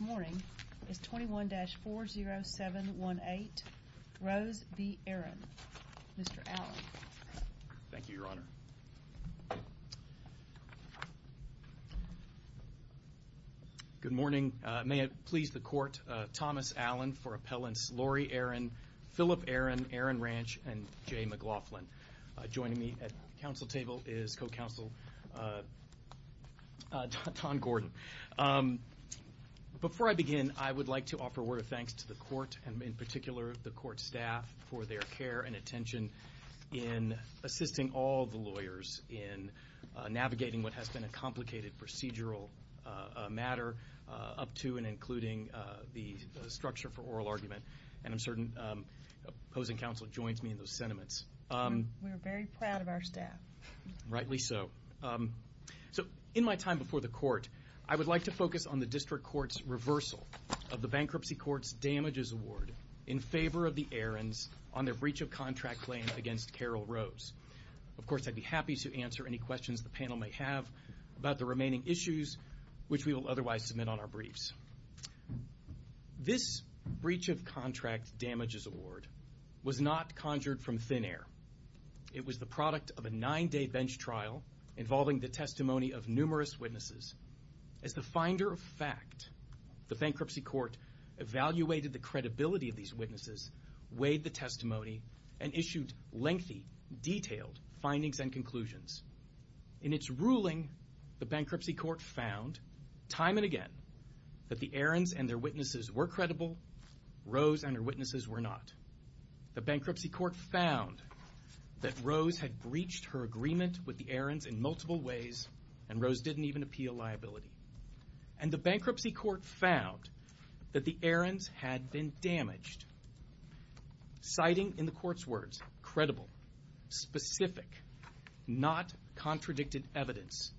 morning is 21-40718 Rose v. Aaron. Mr. Allen. Thank you, your honor. Good morning. May it please the court, Thomas Allen for appellants Lori Aaron, Philip Aaron, Aaron Ranch, and Jay McLaughlin. Joining me at the council table is co-counsel Don Gordon. Mr. Allen, thank you. Before I begin, I would like to offer a word of thanks to the court and in particular the court staff for their care and attention in assisting all the lawyers in navigating what has been a complicated procedural matter up to and including the structure for oral argument and I'm certain opposing counsel joins me in those sentiments. We are very proud of our staff. Rightly so. So in my time before the court, I would like to focus on the district court's reversal of the bankruptcy court's damages award in favor of the Aarons on their breach of contract claim against Carol Rose. Of course, I'd be happy to answer any questions the panel may have about the remaining issues, which we will otherwise submit on our briefs. This breach of contract damages award was not conjured from thin air. It was the product of a nine-day bench trial involving the testimony of numerous witnesses. As the finder of fact, the bankruptcy court evaluated the credibility of these witnesses, weighed the testimony, and issued lengthy, detailed findings and conclusions. In its ruling, the bankruptcy court found time and again that the Aarons and their witnesses were credible, Rose and her witnesses were not. The bankruptcy court found that Rose had breached her agreement with the Aarons in multiple ways and Rose didn't even appeal liability. And the bankruptcy court found that the Aarons had been damaged. Citing in the court's words, credible, specific, not contradicted evidence,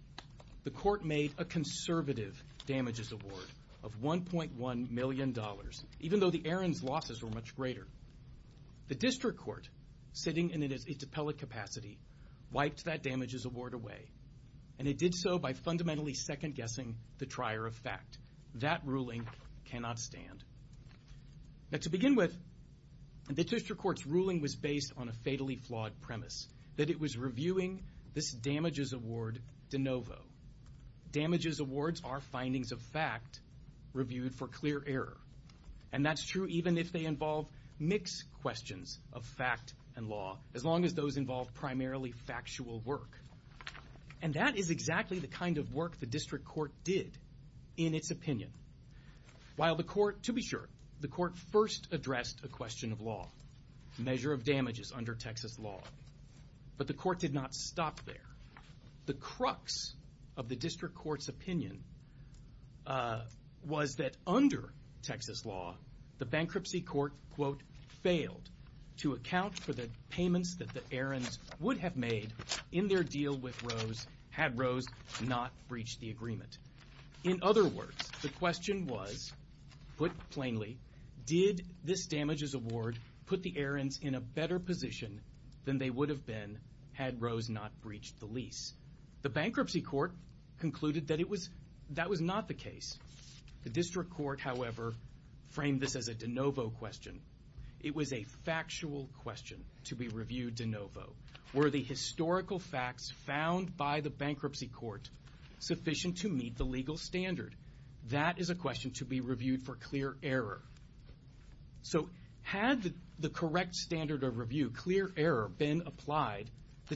the court made a conservative damages award of 1.1 million dollars, even though the Aarons' losses were much greater. The district court, sitting in its appellate capacity, wiped that damages award away, and it did so by fundamentally second-guessing the trier of fact. That ruling cannot stand. To begin with, the district court's ruling was based on a fatally flawed premise, that it was reviewing this damages award de novo. Damages awards are findings of fact reviewed for clear error, and that's true even if they involve mixed questions of fact and law, as long as those involve primarily factual work. And that is exactly the kind of work the district court did in its opinion. While the court, to be sure, the court first addressed a question of law, measure of damages under Texas law, but the court did not stop there. The crux of the district court's opinion was that under Texas law, the bankruptcy court, quote, failed to account for the payments that the Aarons would have made in their deal with Rose had Rose not breached the agreement. In other words, the question was, put plainly, did this damages award put the Aarons in a better position than they would have been had Rose not breached the lease? The bankruptcy court concluded that it was, that was not the case. The district court, however, framed this as a de novo question. It was a factual question to be reviewed de novo. Were the historical facts found by the bankruptcy court sufficient to meet the legal standard? That is a question to be reviewed for clear error. So had the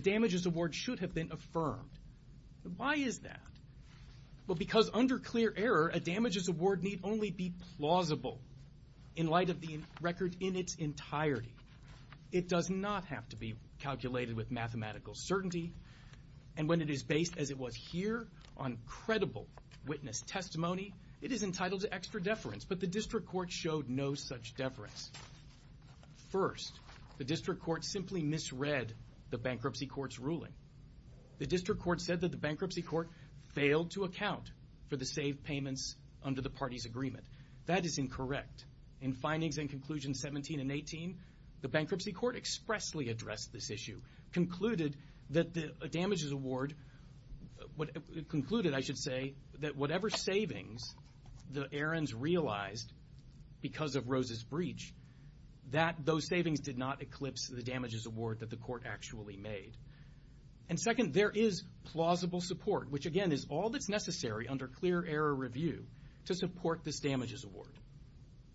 damages award should have been affirmed. Why is that? Well, because under clear error, a damages award need only be plausible in light of the record in its entirety. It does not have to be calculated with mathematical certainty, and when it is based as it was here on credible witness testimony, it is entitled to extra deference, but the district court showed no such deference. First, the district court simply misread the bankruptcy court's ruling. The district court said that the bankruptcy court failed to account for the saved payments under the party's agreement. That is incorrect. In findings and conclusions 17 and 18, the bankruptcy court expressly addressed this issue, concluded that the damages award, concluded, I should say, that whatever savings the Aarons realized because of Rose's argument. And second, there is plausible support, which again is all that's necessary under clear error review to support this damages award.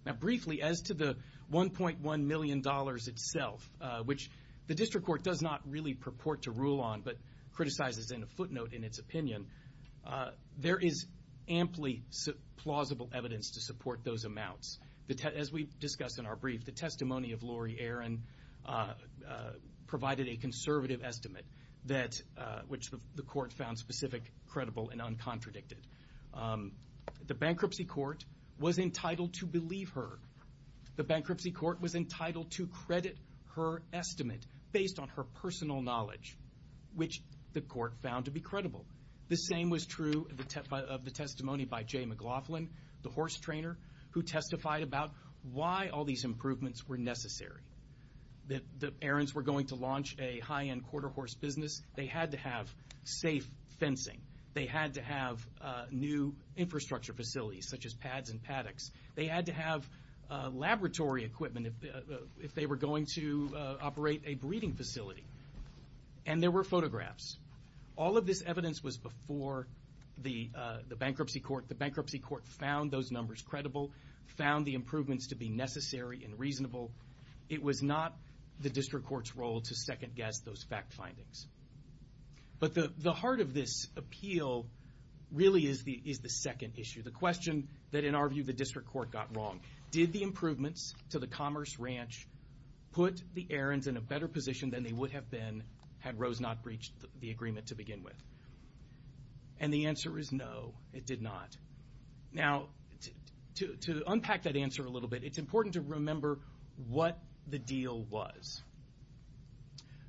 Now briefly, as to the $1.1 million itself, which the district court does not really purport to rule on, but criticizes in a footnote in its opinion, there is amply plausible evidence to support those amounts. As we discussed in our brief, the testimony of Lori Aaron provided a conservative estimate which the court found specific, credible, and uncontradicted. The bankruptcy court was entitled to believe her. The bankruptcy court was entitled to credit her estimate based on her personal knowledge, which the court found to be credible. The same was true of the testimony by Jay McLaughlin, the horse trainer, who testified about why all these improvements were necessary. The Aarons were going to launch a high-end quarter horse business. They had to have safe fencing. They had to have new infrastructure facilities such as pads and paddocks. They had to have laboratory equipment if they were going to operate a bankruptcy court. The bankruptcy court found those numbers credible, found the improvements to be necessary and reasonable. It was not the district court's role to second-guess those fact findings. But the heart of this appeal really is the second issue, the question that in our view the district court got wrong. Did the improvements to the Commerce Ranch put the Aarons in a better position than they would have been had Rose not breached the deal? And the answer is no, it did not. Now, to unpack that answer a little bit, it's important to remember what the deal was.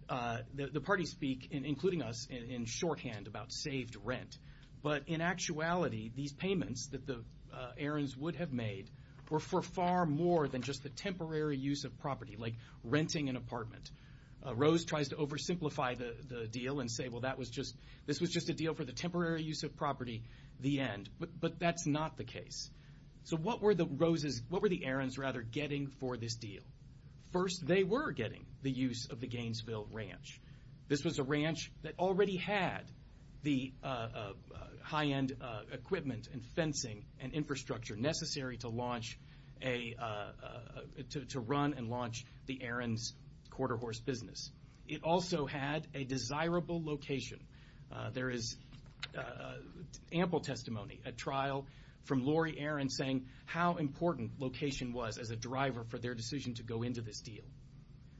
The parties speak, including us, in shorthand about saved rent. But in actuality, these payments that the Aarons would have made were for far more than just the temporary use of property, like renting an apartment. Rose tries to oversimplify the deal and say, well, this was just a deal for the temporary use of property, the end. But that's not the case. So what were the Aarons, rather, getting for this deal? First, they were getting the use of the Gainesville Ranch. This was a ranch that already had the high-end equipment and fencing and infrastructure necessary to run and launch the Aarons' quarter horse business. It also had a desirable location. There is ample testimony at trial from Lori Aarons saying how important location was as a driver for their decision to go into this deal.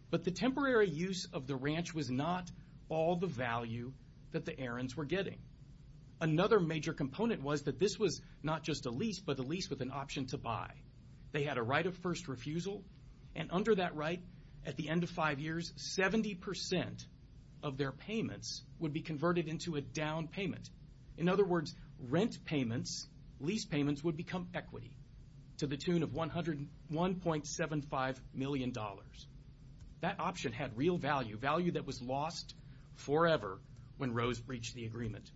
But the temporary use of the ranch was not all the value that the Aarons were getting. Another major component was that this was not just a lease, but a lease with an option to buy. They had a right of first refusal, and under that right, at the end of five years, 70 percent of their payments would be converted into a down payment. In other words, rent payments, lease payments, would become equity to the tune of $101.75 million. That option had real value, value that was lost forever when Rose reached the agreement.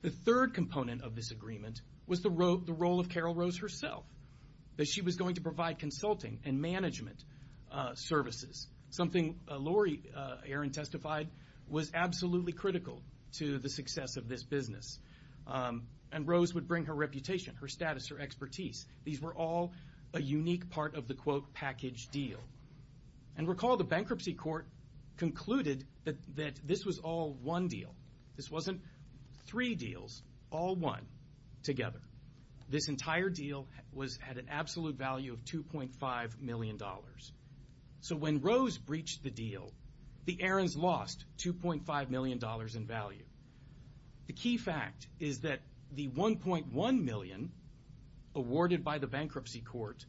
The third component of this agreement was the role of Carol Rose herself, that she was going to provide consulting and management services, something Lori Aarons testified was absolutely critical to the success of this business. And Rose would bring her reputation, her status, her expertise. These were all a unique part of the, quote, package deal. And recall the bankruptcy court concluded that this was all one deal. This wasn't three deals, all one together. This entire deal was, had an absolute value of $2.5 million. So when Rose breached the deal, the Aarons lost $2.5 million in value. The key fact is that the $1.1 million awarded by the bankruptcy court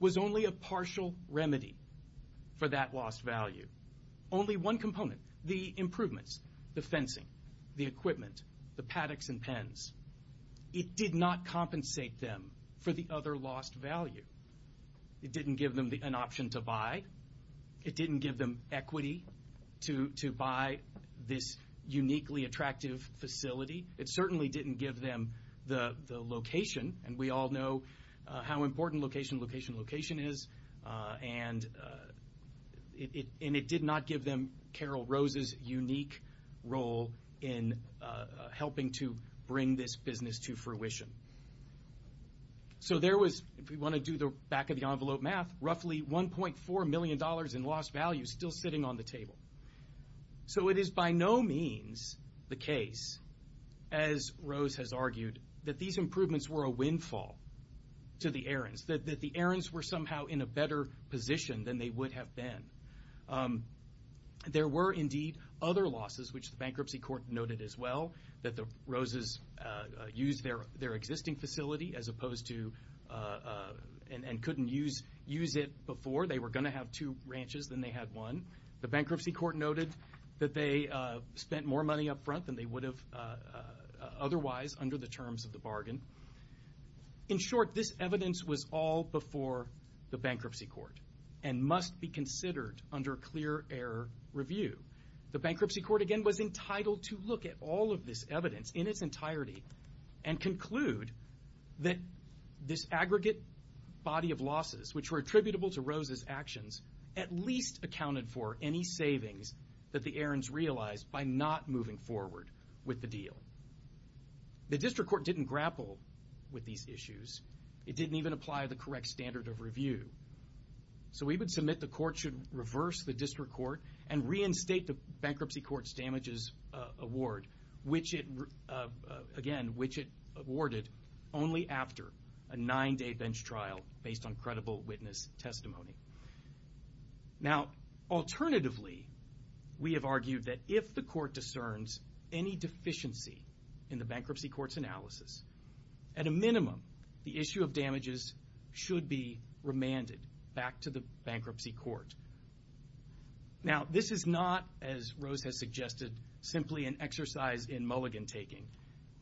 was only a partial remedy for that lost value. Only one component, the improvements, the fencing, the equipment, the paddocks and pens, it did not compensate them for the other lost value. It didn't give them an option to buy. It didn't give them equity to buy this uniquely attractive facility. It certainly didn't give them the location. And we all know how important location, location, location is. And it did not give them Carol Rose's unique role in helping to bring this business to fruition. So there was, if you want to do the back of the envelope math, roughly $1.4 million in lost value still sitting on the table. So it is by no means the case as Rose has argued that these improvements were a windfall to the Aarons, that the Aarons were somehow in a better position than they would have been. There were indeed other losses which the bankruptcy court noted as well, that the Roses used their existing facility as opposed to, and couldn't use it before. They were going to have two ranches, then they had one. The bankruptcy court noted that they spent more money up front than they would have otherwise under the terms of the bargain. In short, this evidence was all before the bankruptcy court and must be considered under clear air review. The bankruptcy court again was entitled to look at all of this evidence in its entirety and conclude that this aggregate body of losses, which were attributable to Rose's actions, at least accounted for any moving forward with the deal. The district court didn't grapple with these issues. It didn't even apply the correct standard of review. So we would submit the court should reverse the district court and reinstate the bankruptcy court's damages award, which it awarded only after a nine-day bench trial based on credible witness testimony. Now, alternatively, we have argued that if the court discerns any deficiency in the bankruptcy court's analysis, at a minimum, the issue of damages should be remanded back to the bankruptcy court. Now, this is not, as Rose has suggested, simply an exercise in mulligan taking.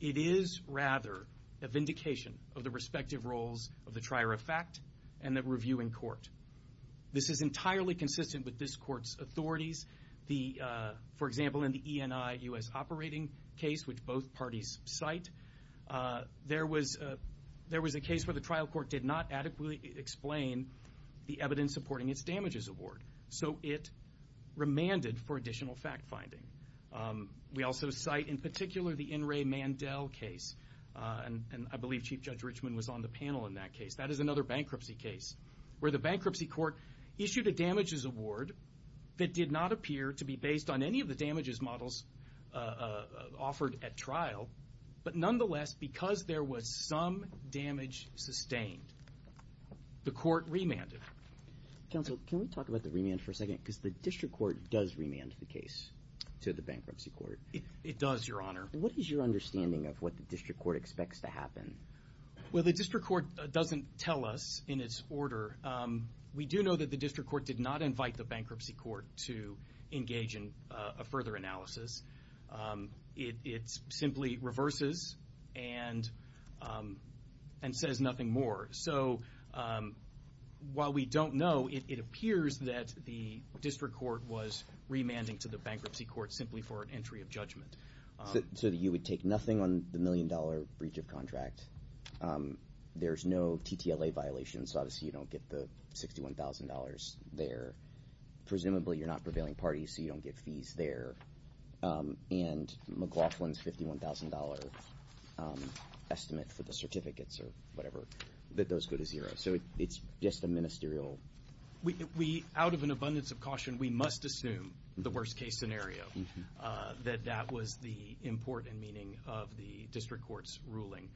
It is rather a vindication of the respective roles of the trier of fact and of reviewing court. This is entirely consistent with this court's authorities. For example, in the ENI U.S. operating case, which both parties cite, there was a case where the trial court did not adequately explain the evidence supporting its damages award. So it remanded for additional fact-finding. We also cite, in particular, the N. Ray Mandel case, and I believe Chief Judge Richman was on the panel in that case. That is another bankruptcy case where the bankruptcy court issued a damages award that did not appear to be based on any of the damages models offered at trial, but nonetheless, because there was some damage sustained, the court remanded. Counsel, can we talk about the remand for a second? Because the district court does remand the case to the bankruptcy court. It does, Your Honor. What is your understanding of what the district court expects to happen? Well, the district court doesn't tell us in its order. We do know that the district court did not invite the bankruptcy court to engage in a further analysis. It simply reverses and says nothing more. So while we don't know, it appears that the district court was remanding to the bankruptcy court simply for an entry of judgment. So you would take nothing on the million-dollar breach of contract. There's no TTLA violation, so obviously you don't get the $61,000 there. Presumably, you're not prevailing parties, so you don't get fees there. And McLaughlin's $51,000 estimate for the certificates or whatever, that those go to zero. So it's just a ministerial... Out of an abundance of caution, we must assume the worst-case scenario, that that was the important meaning of the district court's ruling.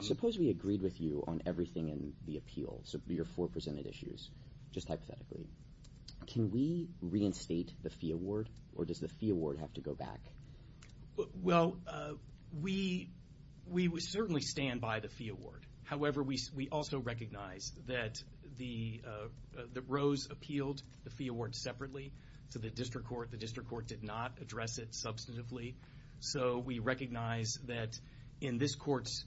Suppose we agreed with you on everything in the appeal, so your four presented issues, just hypothetically. Can we reinstate the fee award, or does the fee award have to go back? Well, we certainly stand by the fee award. However, we also recognize that the remand rose appealed the fee award separately to the district court. The district court did not address it substantively. So we recognize that in this court's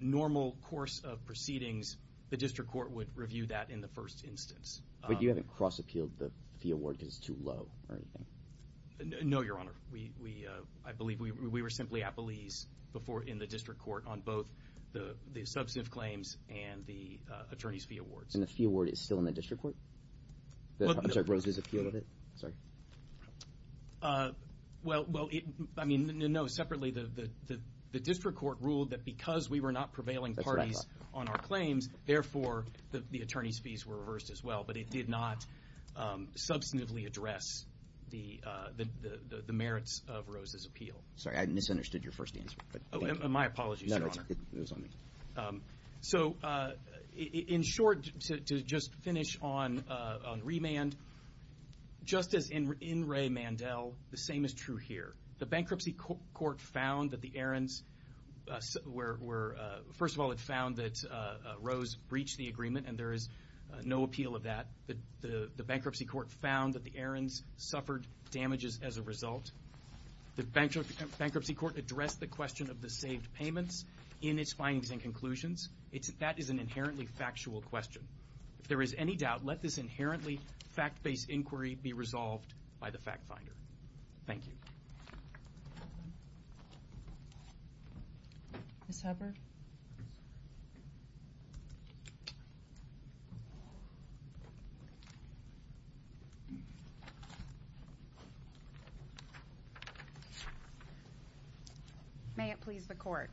normal course of proceedings, the district court would review that in the first instance. But you haven't cross-appealed the fee award because it's too low or anything? No, Your Honor. I believe we were simply appellees in the district court on both the substantive claims and the attorney's fee awards. And the fee award is still in the district court? I'm sorry, Rose's appeal of it? Well, I mean, no. Separately, the district court ruled that because we were not prevailing parties on our claims, therefore, the attorney's fees were reversed as well. But it did not substantively address the merits of Rose's appeal. Sorry, I misunderstood your first answer. My apologies, Your Honor. No, it was on me. So, in short, to just finish on remand, just as in Ray Mandel, the same is true here. The bankruptcy court found that the errands were, first of all, it found that Rose breached the agreement, and there is no appeal of that. The bankruptcy court found that the errands suffered damages as a result. The bankruptcy court addressed the question of the saved payments in its findings and conclusions. That is an inherently factual question. If there is any doubt, let this inherently fact-based inquiry be resolved by the fact finder. Thank you. Ms. Hubbard? May it please the court.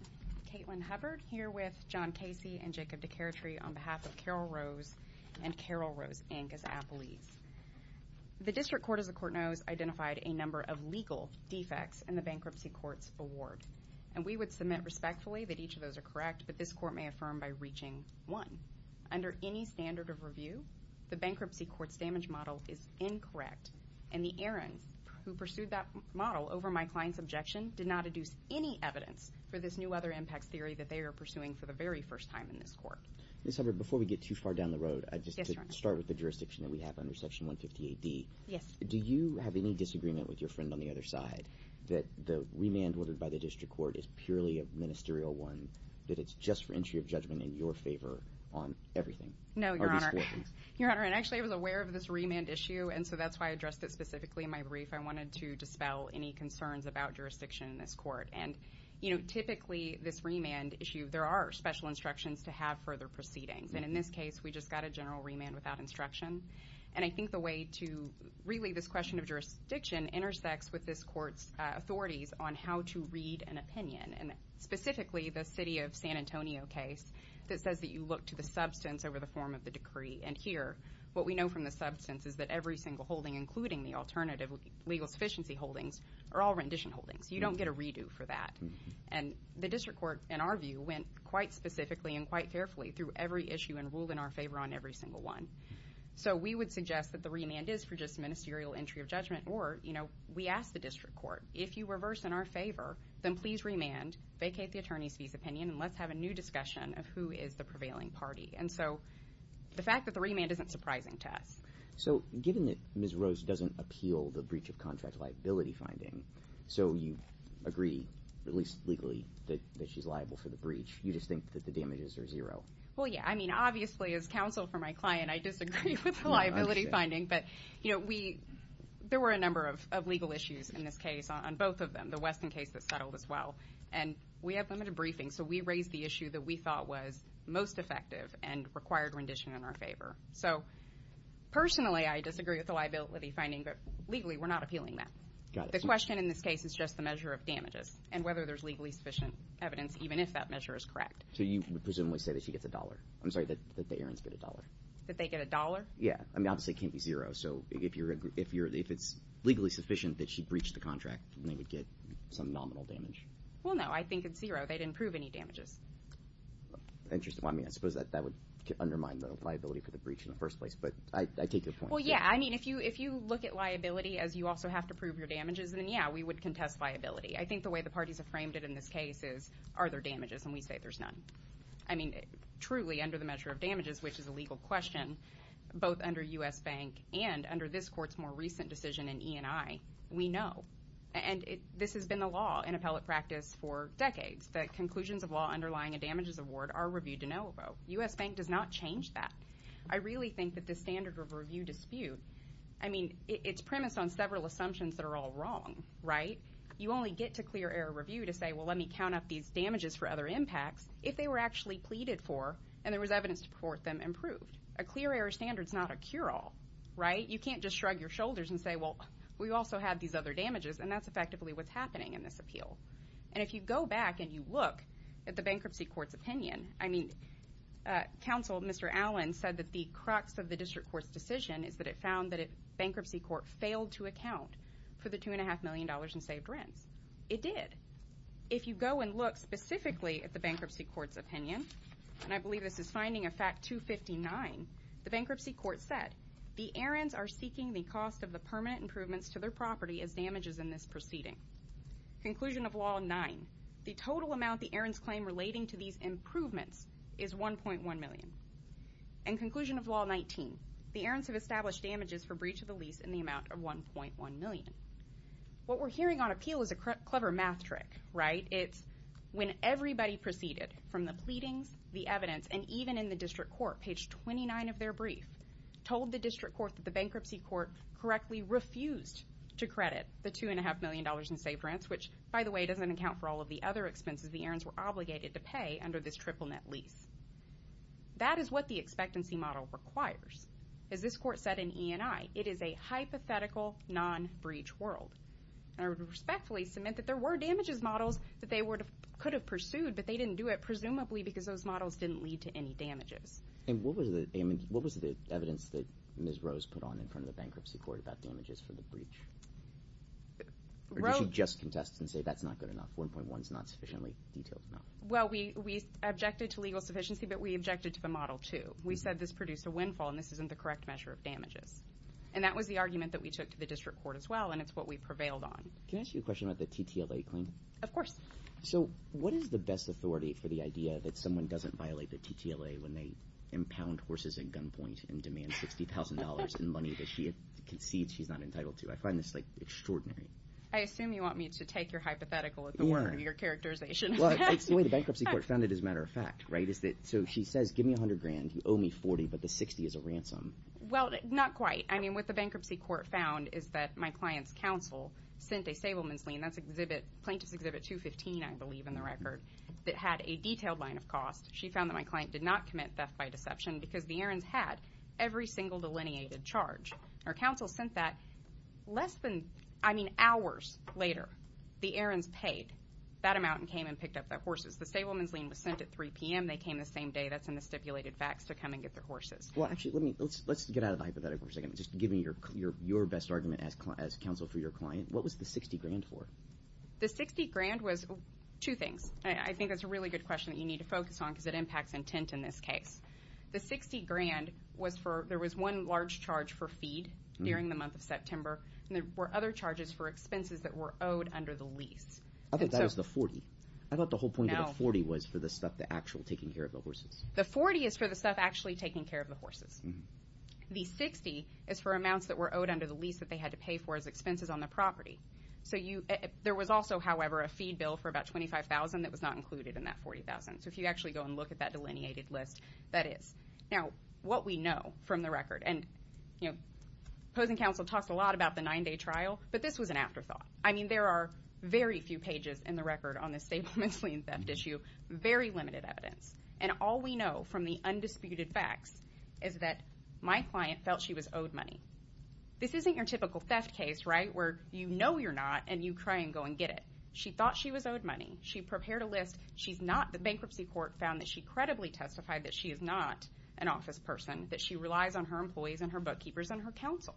Caitlin Hubbard here with John Casey and Jacob DeCaretry on behalf of Carol Rose and Carol Rose, Inc. as appellees. The district court, as the court knows, identified a number of legal defects in the bankruptcy court's award. And we would submit respectfully that each of those are correct, but this court may affirm by reaching one. Under any standard of review, the bankruptcy court's damage model is incorrect, and the errands who pursued that model over my client's objection did not adduce any evidence for this new weather impacts theory that they are pursuing for the very first time in this court. Ms. Hubbard, before we get too far down the road, just to start with the jurisdiction that we have under Section 150AD, do you have any disagreement with your friend on the other side that the remand ordered by the district court is purely a ministerial one, that it's just for entry of judgment in your favor on everything? No, Your Honor. And actually, I was aware of this remand issue, and so that's why I addressed it specifically in my brief. I wanted to dispel any concerns about jurisdiction in this court. And typically, this remand issue, there are special instructions to have further proceedings. And in this case, we just got a general remand without instruction. And I think the way to really this question of jurisdiction intersects with this court's authorities on how to read an opinion, and specifically the city of San Antonio case that says that you look to the substance over the form of the decree. And here, what we know from the substance is that every single holding, including the alternative legal sufficiency holdings, are all rendition holdings. You don't get a redo for that. And the district court, in our view, went quite specifically and quite carefully through every issue and So we would suggest that the remand is for just ministerial entry of judgment, or we ask the district court, if you reverse in our favor, then please remand, vacate the attorney's visa opinion, and let's have a new discussion of who is the prevailing party. And so, the fact that the remand isn't surprising to us. So, given that Ms. Rose doesn't appeal the breach of contract liability finding, so you agree, at least legally, that she's liable for the breach, you just think that the damages are zero? Well, yeah. I mean, obviously, as counsel for my client, I disagree with the liability finding, but, you know, we, there were a number of legal issues in this case on both of them, the Weston case that settled as well, and we have limited briefing, so we raised the issue that we thought was most effective and required rendition in our favor. So, personally, I disagree with the liability finding, but legally, we're not appealing that. The question in this case is just the measure of damages, and whether there's legally sufficient evidence, even if that measure is correct. So, you presumably say that she gets a dollar? I'm sorry, that the errands get a dollar? That they get a dollar? Yeah. I mean, obviously, it can't be zero, so if you're if it's legally sufficient that she breached the contract, then they would get some nominal damage. Well, no. I think it's zero. They didn't prove any damages. Interesting. I mean, I suppose that would undermine the liability for the breach in the first place, but I take your point. Well, yeah. I mean, if you look at liability as you also have to prove your damages, then, yeah, we would contest liability. I think the way the parties have framed it in this case is, are there damages? And we say there's none. I mean, truly, under the measure of damages, which is a legal question, both under U.S. Bank and under this Court's more recent decision in E&I, we know. And this has been the law in appellate practice for decades, that conclusions of law underlying a damages award are reviewed to know about. U.S. Bank does not change that. I really think that this standard of review dispute, I mean, it's premised on several assumptions that are all wrong, right? You only get to clear error review to say, well, let me count up these damages for other impacts if they were actually pleaded for and there was evidence to support them and proved. A clear error standard is not a cure-all, right? You can't just shrug your shoulders and say, well, we also have these other damages, and that's effectively what's happening in this appeal. And if you go back and you look at the Bankruptcy Court's opinion, I mean, counsel, Mr. Allen, said that the crux of the District Court's decision is that it found that Bankruptcy Court failed to account for the $2.5 million in saved rents. It did. If you go and look specifically at the Bankruptcy Court's opinion, and I believe this is finding of fact 259, the Bankruptcy Court said, the errands are seeking the cost of the permanent improvements to their property as damages in this proceeding. Conclusion of law 9, the total amount the errands claim relating to these improvements is $1.1 million. And conclusion of law 19, the errands have established damages for breach to the lease in the amount of $1.1 million. What we're hearing on appeal is a clever math trick, right? It's when everybody proceeded from the pleadings, the evidence, and even in the District Court, page 29 of their brief, told the District Court that the Bankruptcy Court correctly refused to credit the $2.5 million in saved rents, which, by the way, doesn't account for all of the other expenses the errands were obligated to pay under this triple-net lease. That is what the expectancy model requires. As this Court said in E&I, it is a hypothetical, non-breach world. And I would respectfully submit that there were damages models that they could have pursued, but they didn't do it, presumably because those models didn't lead to any damages. And what was the evidence that Ms. Rose put on in front of the Bankruptcy Court about damages for the breach? Or did she just contest and say, that's not good enough, $1.1 is not sufficiently detailed enough? Well, we objected to legal sufficiency, but we objected to the Model 2. We said this produced a windfall, and this isn't the correct measure of damages. And that was the argument that we took to the District Court as well, and it's what we prevailed on. Can I ask you a question about the TTLA claim? Of course. So, what is the best authority for the idea that someone doesn't violate the TTLA when they impound horses at gunpoint and demand $60,000 in money that she concedes she's not entitled to? I find this, like, extraordinary. I assume you want me to take your hypothetical at the word of your characterization. Well, it's the way the Bankruptcy Court found it, as a matter of fact. So she says, give me $100,000, you owe me $40,000, but the $60,000 is a ransom. Well, not quite. I mean, what the Bankruptcy Court found is that my client's counsel sent a stableman's lien, that's Plaintiff's Exhibit 215, I believe, in the record, that had a detailed line of cost. She found that my client did not commit theft by deception because the errands had every single delineated charge. Her counsel sent that less than, I mean, hours later. The errands paid. That amount came and picked up the horses. The stableman's lien was sent at 3 p.m. They came the same day. That's in the stipulated facts to come and get their horses. Well, actually, let's get out of the hypothetical for a second. Just give me your best argument as counsel for your client. What was the $60,000 for? The $60,000 was two things. I think that's a really good question that you need to focus on because it impacts intent in this case. The $60,000 was for, there was one large charge for feed during the month of September and there were other charges for expenses that were owed under the lease. I thought that was the $40,000. I thought the whole point of the $40,000 was for the stuff, the actual taking care of the horses. The $40,000 is for the stuff actually taking care of the horses. The $60,000 is for amounts that were owed under the lease that they had to pay for as expenses on the property. There was also, however, a feed bill for about $25,000 that was not included in that $40,000. So if you actually go and look at that delineated list, that is. Now, what we know from the record, and opposing counsel talks a lot about the nine-day trial, but this was an afterthought. I mean, there are very few pages in the record on the stableman's lien theft issue. Very limited evidence. And all we know from the undisputed facts is that my client felt she was owed money. This isn't your typical theft case, right, where you know you're not and you try and go and get it. She thought she was owed money. She prepared a list. She's not. The bankruptcy court found that she credibly testified that she is not an office person, that she relies on her employees and her bookkeepers and her counsel,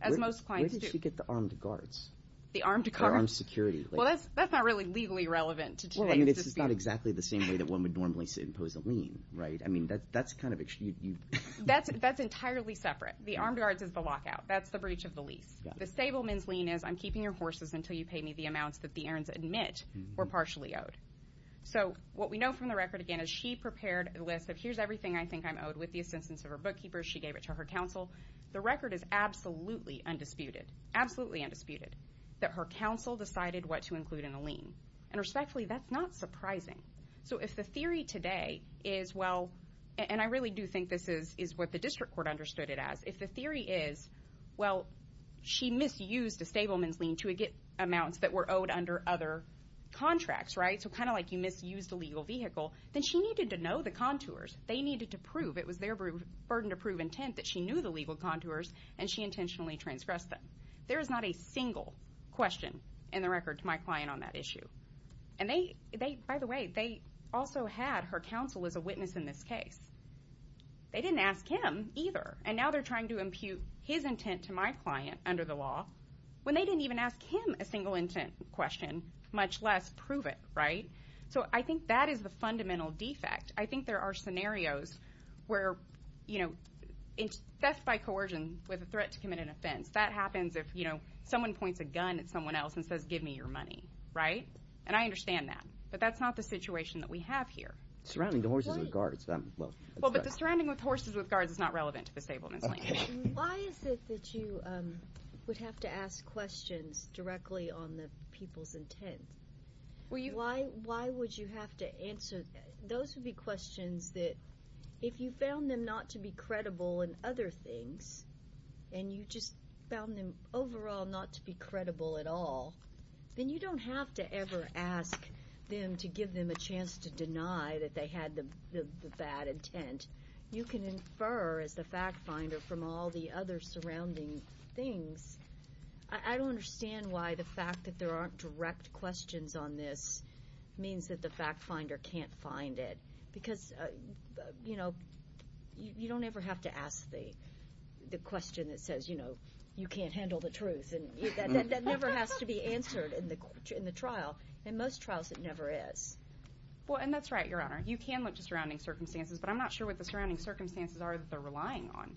as most clients do. How did she get the armed guards? The armed guards? Or armed security? Well, that's not really legally relevant. Well, I mean, this is not exactly the same way that one would normally impose a lien, right? I mean, that's kind of... That's entirely separate. The armed guards is the lockout. That's the breach of the lease. The stableman's lien is, I'm keeping your horses until you pay me the amounts that the errands admit were partially owed. So what we know from the record, again, is she prepared a list of, here's everything I think I'm owed, with the assistance of her bookkeepers. She gave it to her counsel. The record is absolutely undisputed. Absolutely undisputed that her counsel decided what to include in the lien. And respectfully, that's not surprising. So if the theory today is, well, and I really do think this is what the district court understood it as, if the theory is well, she misused a stableman's lien to get amounts that were owed under other contracts, right? So kind of like you misused a legal vehicle, then she needed to know the contours. They needed to prove, it was their burden to prove intent that she knew the legal contours and she intentionally transgressed them. There is not a single question in the record to my client on that issue. And they, by the way, they also had her counsel as a witness in this case. They didn't ask him either. And now they're trying to impute his intent to my client under the law when they didn't even ask him a single intent question, much less prove it, right? So I think that is the fundamental defect. I think there are scenarios where, you know, theft by coercion with a threat to commit an offense, that happens if, you know, someone points a gun at someone else and says, give me your money, right? And I understand that. But that's not the situation that we have here. Surrounding the horses with guards. Well, but the surrounding with horses with guards is not relevant to the stableman's lien. Why is it that you would have to ask questions directly on the people's intent? Why would you have to answer those would be questions that, if you found them not to be credible in other things, and you just found them overall not to be credible at all, then you don't have to ever ask them to give them a chance to deny that they had the bad intent. You can infer as the fact finder from all the other surrounding things. I don't understand why the fact that there aren't direct questions on this means that the fact finder can't find it. Because, you know, you don't ever have to ask the question that says, you know, you can't handle the truth. That never has to be answered in the trial. In most trials, it never is. Well, and that's right, Your Honor. You can look to surrounding circumstances, but I'm not sure what the surrounding circumstances are that they're relying on.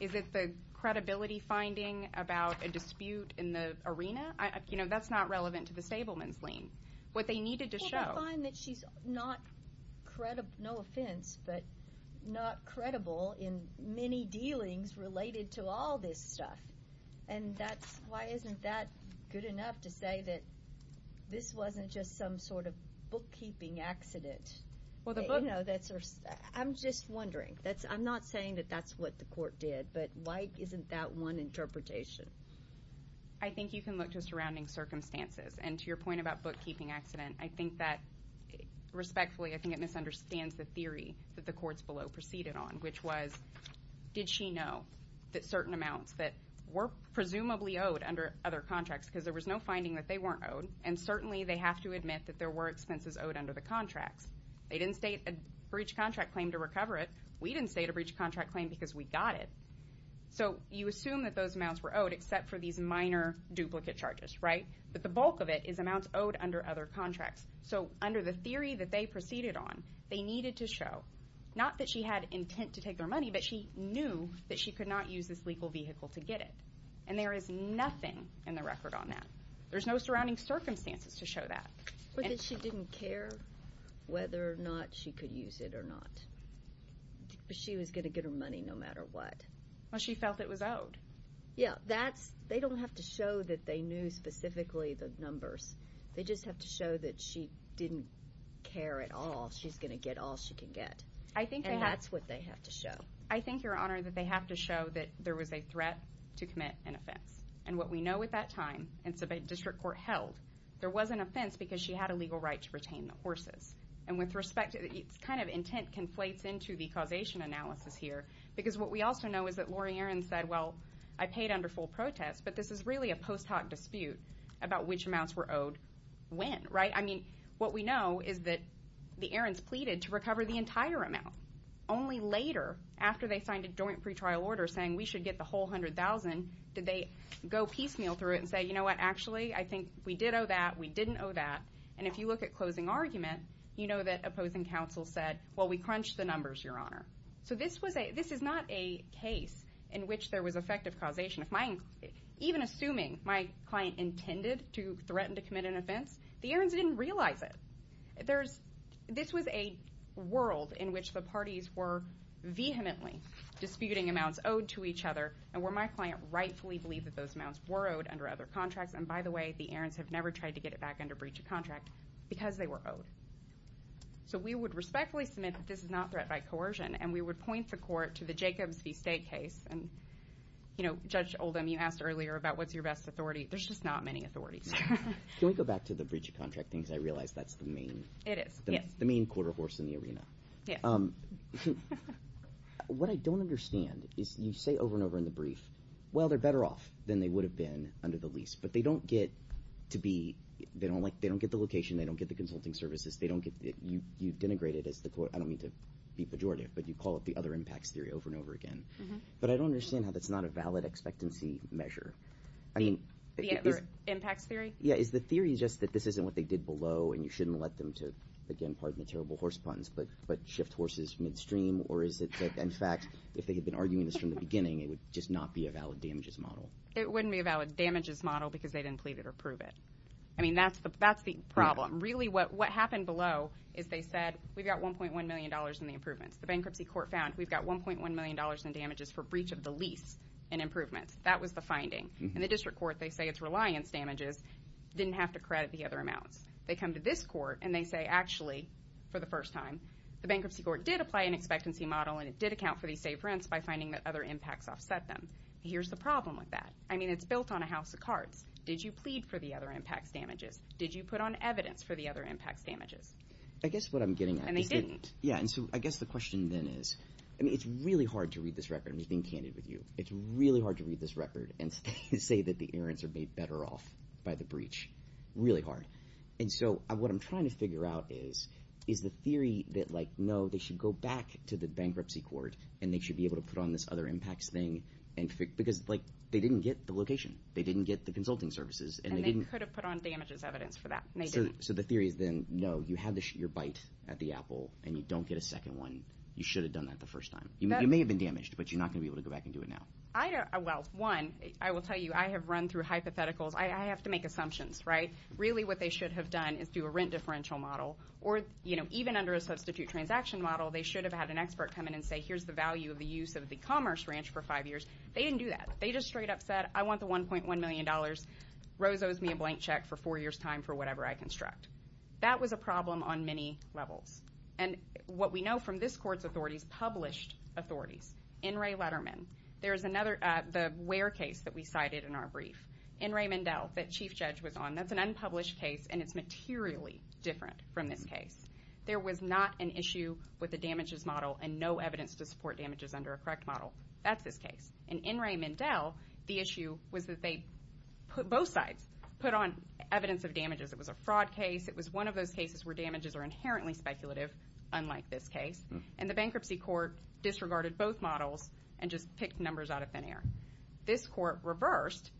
Is it the credibility finding about a dispute in the arena? You know, that's not relevant to the show. But you will find that she's not credible, no offense, but not credible in many dealings related to all this stuff. And that's, why isn't that good enough to say that this wasn't just some sort of bookkeeping accident? I'm just wondering. I'm not saying that that's what the court did, but why isn't that one interpretation? I think you can look to surrounding circumstances, and to your point about bookkeeping accident, I think that, respectfully, I think it misunderstands the theory that the courts below proceeded on, which was did she know that certain amounts that were presumably owed under other contracts, because there was no finding that they weren't owed, and certainly they have to admit that there were expenses owed under the contracts. They didn't state a breach contract claim to recover it. We didn't state a breach contract claim because we got it. So, you assume that those amounts were owed, except for these minor duplicate charges, right? But the bulk of it is amounts owed under other contracts. So, under the theory that they proceeded on, they needed to show, not that she had intent to take their money, but she knew that she could not use this legal vehicle to get it. And there is nothing in the record on that. There's no surrounding circumstances to show that. But that she didn't care whether or not she could use it or not. But she was going to get her money no matter what. Well, she felt it was owed. Yeah. They don't have to show that they knew specifically the numbers. They just have to show that she didn't care at all. She's going to get all she can get. And that's what they have to show. I think, Your Honor, that they have to show that there was a threat to commit an offense. And what we know at that time, and so the district court held, there was an offense because she had a legal right to retain the horses. And with respect, it's kind of intent conflates into the causation analysis here. Because what we also know is that this is a wonderful protest, but this is really a post hoc dispute about which amounts were owed when, right? I mean, what we know is that the errands pleaded to recover the entire amount. Only later, after they signed a joint pre-trial order saying we should get the whole $100,000, did they go piecemeal through it and say, you know what, actually, I think we did owe that, we didn't owe that. And if you look at closing argument, you know that opposing counsel said, well, we crunched the numbers, Your Honor. So this is not a case in which there was effective causation. Even assuming my client intended to threaten to commit an offense, the errands didn't realize it. This was a world in which the parties were vehemently disputing amounts owed to each other, and where my client rightfully believed that those amounts were owed under other contracts. And by the way, the errands have never tried to get it back under breach of contract because they were owed. So we would respectfully submit that this is not threat by coercion, and we would point the court to the Jacobs v. State case. And, you know, Judge Oldham, you asked earlier about what's your best authority. There's just not many authorities here. Can we go back to the breach of contract thing, because I realize that's the main quarter horse in the arena. What I don't understand is you say over and over in the brief, well, they're better off than they would have been under the lease, but they don't get to be, they don't get the location, they don't get the consulting services, they don't get, you've denigrated as the court, I don't mean to be pejorative, but you call it the other impacts theory over and over again. But I don't understand how that's not a valid expectancy measure. The other impacts theory? Yeah, is the theory just that this isn't what they did below, and you shouldn't let them to, again, pardon the terrible horse puns, but shift horses midstream, or is it that, in fact, if they had been arguing this from the beginning, it would just not be a valid damages model? It wouldn't be a valid damages model because they didn't plead it or prove it. I mean, that's the problem. Really, what happened below is they said, we've got $1.1 million in the improvements. The bankruptcy court found we've got $1.1 million in damages for breach of the lease in improvements. That was the finding. And the district court, they say it's reliance damages, didn't have to credit the other amounts. They come to this court, and they say, actually, for the first time, the bankruptcy court did apply an expectancy model, and it did account for these safe rents by finding that other impacts offset them. Here's the problem with that. I mean, it's built on a house of cards. Did you plead for the other impacts damages? Did you put on evidence for the other impacts damages? I guess what I'm getting at is that... And they didn't. I guess the question then is, I mean, it's really hard to read this record. I'm just being candid with you. It's really hard to read this record and say that the errands are made better off by the breach. Really hard. And so, what I'm trying to figure out is, is the theory that, like, no, they should go back to the bankruptcy court, and they should be able to put on this other impacts thing because they didn't get the location. They didn't get the consulting services, and they didn't... So the theory is then, no, you had your bite at the apple, and you don't get a second one. You should have done that the first time. You may have been damaged, but you're not going to be able to go back and do it now. I don't... Well, one, I will tell you, I have run through hypotheticals. I have to make assumptions, right? Really, what they should have done is do a rent differential model or, you know, even under a substitute transaction model, they should have had an expert come in and say, here's the value of the use of the Commerce Ranch for five years. They didn't do that. They just straight up said, I want the $1.1 million. Rose owes me a blank check for four years' time for whatever I construct. That was a problem on many levels. And what we know from this court's authorities, published authorities, In re Letterman, there's another... The Ware case that we cited in our brief, In re Mendel, that Chief Judge was on, that's an unpublished case, and it's materially different from this case. There was not an issue with the damages model and no evidence to support damages under a correct model. That's this case. In In re Mendel, the issue was that they both sides put on evidence of damages. It was a fraud case. It was one of those cases where damages are inherently speculative, unlike this case. And the bankruptcy court disregarded both models and just picked numbers out of thin air. This court reversed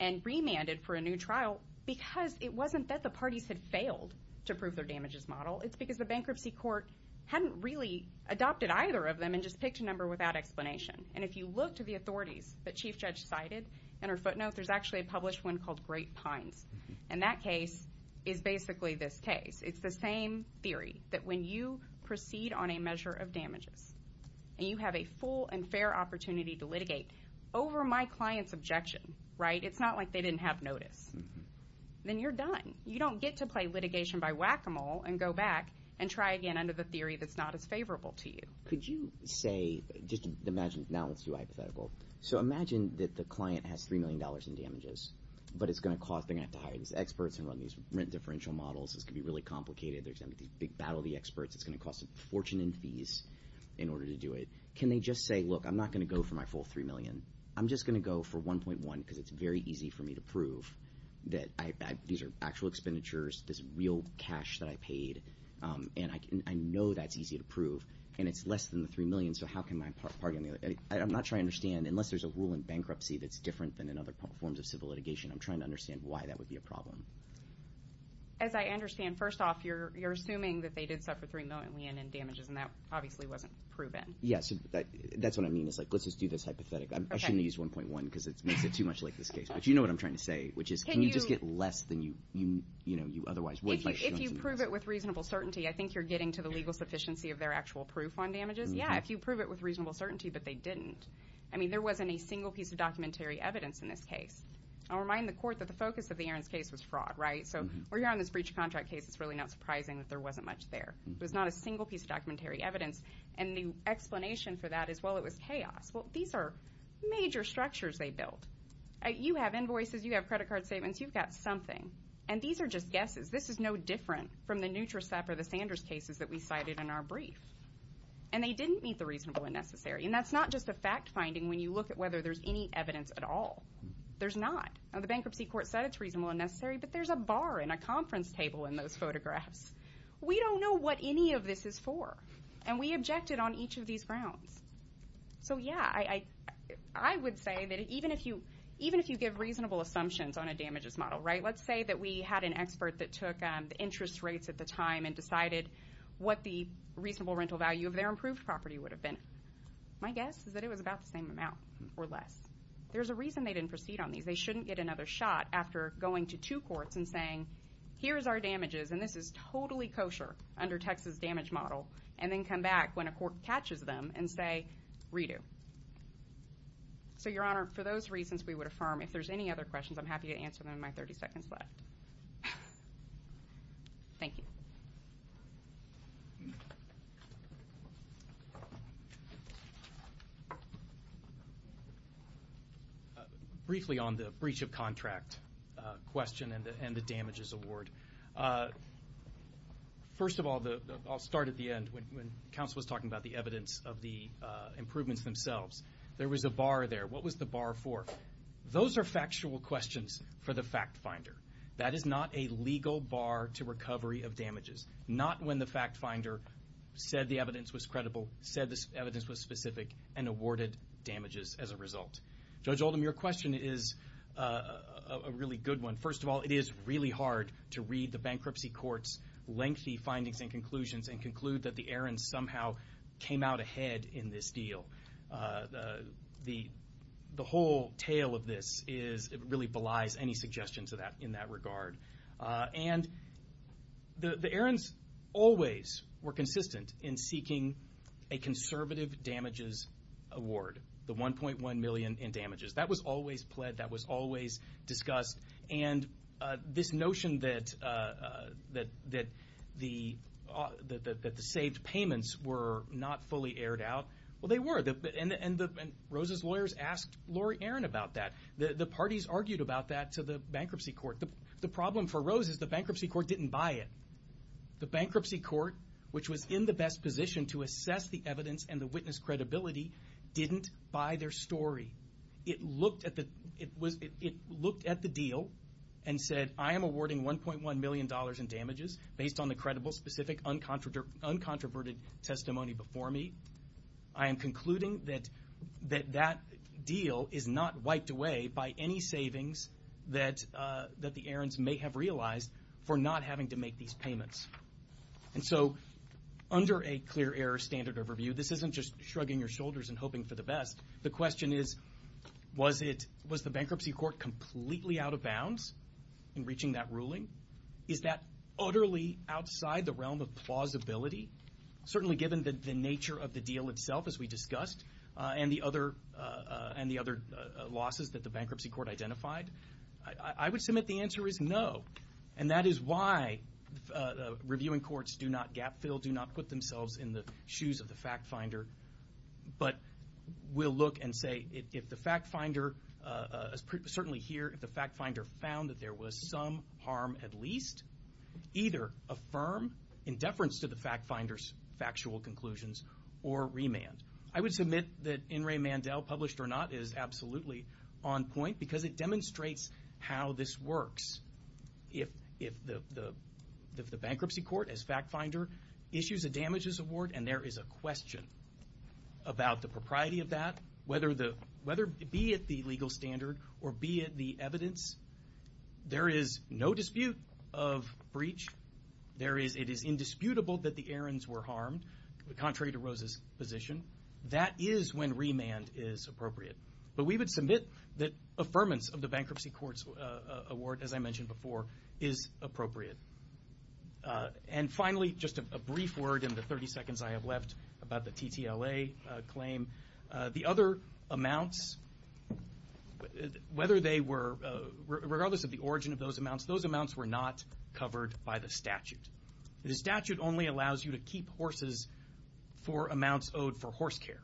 and remanded for a new trial because it wasn't that the parties had failed to prove their damages model. It's because the bankruptcy court hadn't really adopted either of them and just picked a number without explanation. And if you look to the authorities that Chief Judge cited in her footnote, there's actually a published one called Great Pines. And that case is basically this case. It's the same theory, that when you proceed on a measure of damages and you have a full and fair opportunity to litigate over my client's objection, right? It's not like they didn't have notice. Then you're done. You don't get to play litigation by whack-a-mole and go back and try again under the theory that's not as favorable to you. Could you say, just imagine that the client has $3 million in damages, but they're going to have to hire these experts and run these rent differential models. This could be really complicated. There's going to be a big battle of the experts. It's going to cost a fortune in fees in order to do it. Can they just say, look, I'm not going to go for my full $3 million. I'm just going to go for $1.1 because it's very easy for me to prove that these are actual expenditures, this is real cash that I paid. And I know that's easy to prove. And it's less than the $3 million, so how can my party I'm not trying to understand, unless there's a rule in bankruptcy that's different than in other forms of civil litigation, I'm trying to understand why that would be a problem. As I understand, first off, you're assuming that they did suffer $3 million in damages and that obviously wasn't proven. Yes, that's what I mean. It's like, let's just do this hypothetic. I shouldn't have used $1.1 because it makes it too much like this case. But you know what I'm trying to say which is, can you just get less than you otherwise would? If you prove it with reasonable certainty, I think you're getting to the legal sufficiency of their actual proof on damages. Yeah, if you prove it with reasonable certainty, but they didn't. I mean, there wasn't a single piece of documentary evidence in this case. I'll remind the court that the focus of the Aarons case was fraud, right? So we're here on this breach of contract case, it's really not surprising that there wasn't much there. There was not a single piece of documentary evidence. And the explanation for that is, well, it was chaos. Well, these are major structures they built. You have invoices, you have credit card statements, you've got something. And these are just guesses. This is no different from the NutriSep or the Sanders cases that we cited in our brief. And they didn't meet the reasonable and necessary. And that's not just a fact finding when you look at whether there's any evidence at all. There's not. Now the bankruptcy court said it's reasonable and necessary, but there's a bar and a conference table in those photographs. We don't know what any of this is for. And we objected on each of these grounds. So yeah, I would say that even if you give reasonable assumptions on a damages model, right? Let's say that we had an expert that took the interest rates at the time and decided what the reasonable rental value of their improved property would have been. My guess is that it was about the same amount or less. There's a reason they didn't proceed on these. They shouldn't get another shot after going to two courts and saying, here's our damages, and this is totally kosher under Texas damage model, and then come back when a court catches them and say redo. So Your Honor, for those reasons we would affirm if there's any other questions, I'm happy to answer them in my 30 seconds left. Thank you. Briefly on the breach of contract question and the damages award. First of all, I'll start at the end. When counsel was talking about the evidence of the improvements themselves, there was a bar there. What was the bar for? Those are factual questions for the fact finder. That is not a legal bar to recovery of damages. Not when the fact finder said the evidence was credible, said the evidence was specific, and awarded damages as a result. Judge Oldham, your question is a really good one. First of all, it is really hard to read the bankruptcy court's lengthy findings and conclusions and conclude that the errands somehow came out ahead in this deal. The whole tale of this really belies any suggestion in that regard. The errands always were consistent in seeking a conservative damages award. The $1.1 million in damages. That was always pled, that was always discussed, and this notion that the saved payments were not fully aired out. They were. The parties argued about that to the bankruptcy court. The problem for Rose is the bankruptcy court didn't buy it. The bankruptcy court, which was in the best position to assess the evidence and the witness credibility, didn't buy their story. It looked at the deal and said, I am awarding $1.1 million in damages based on the credible, specific, and uncontroverted testimony before me. I am concluding that that deal is not wiped away by any savings that the errands may have realized for not having to make these payments. Under a clear error standard overview, this isn't just shrugging your shoulders and hoping for the best. The question is, was the bankruptcy court completely out of bounds in reaching that ruling? Is that utterly outside the realm of plausibility? Certainly given the nature of the deal itself, as we discussed, and the other losses that the bankruptcy court identified. I would submit the answer is no. And that is why reviewing courts do not gap fill, do not put themselves in the shoes of the fact finder. But we'll look and say if the fact finder, certainly here, if the fact finder found that there was some harm at least, either affirm in deference to the fact finder's factual conclusions or remand. I would submit that In re Mandel, published or not, is absolutely on point because it demonstrates how this works. If the bankruptcy court, as fact finder, issues a damages award and there is a question about the propriety of that, whether be it the legal standard or be it the evidence, there is no dispute of breach. It is indisputable that the errands were harmed, contrary to Rose's position. That is when remand is appropriate. But we would submit that affirmance of the bankruptcy court's award, as I mentioned before, is appropriate. And finally, just a brief word in the 30 seconds I have left about the TTLA claim. The other amounts whether they were, regardless of the origin of those amounts, those amounts were not covered by the statute. The statute only allows you to keep horses for amounts owed for horse care.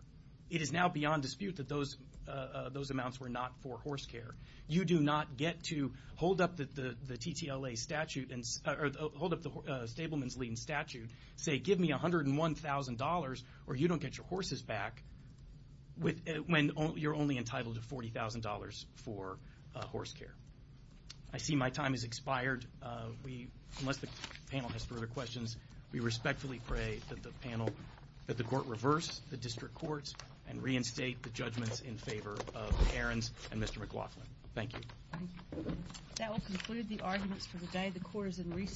It is now beyond dispute that those amounts were not for horse care. You do not get to hold up the TTLA statute, or hold up the stableman's lien statute, say give me $101,000 or you don't get your horses back when you're only entitled to $40,000 for horse care. I see my time has expired. Unless the panel has further questions, we respectfully pray that the panel that the court reverse the district courts and reinstate the judgments in favor of the errands and Mr. McLaughlin. Thank you.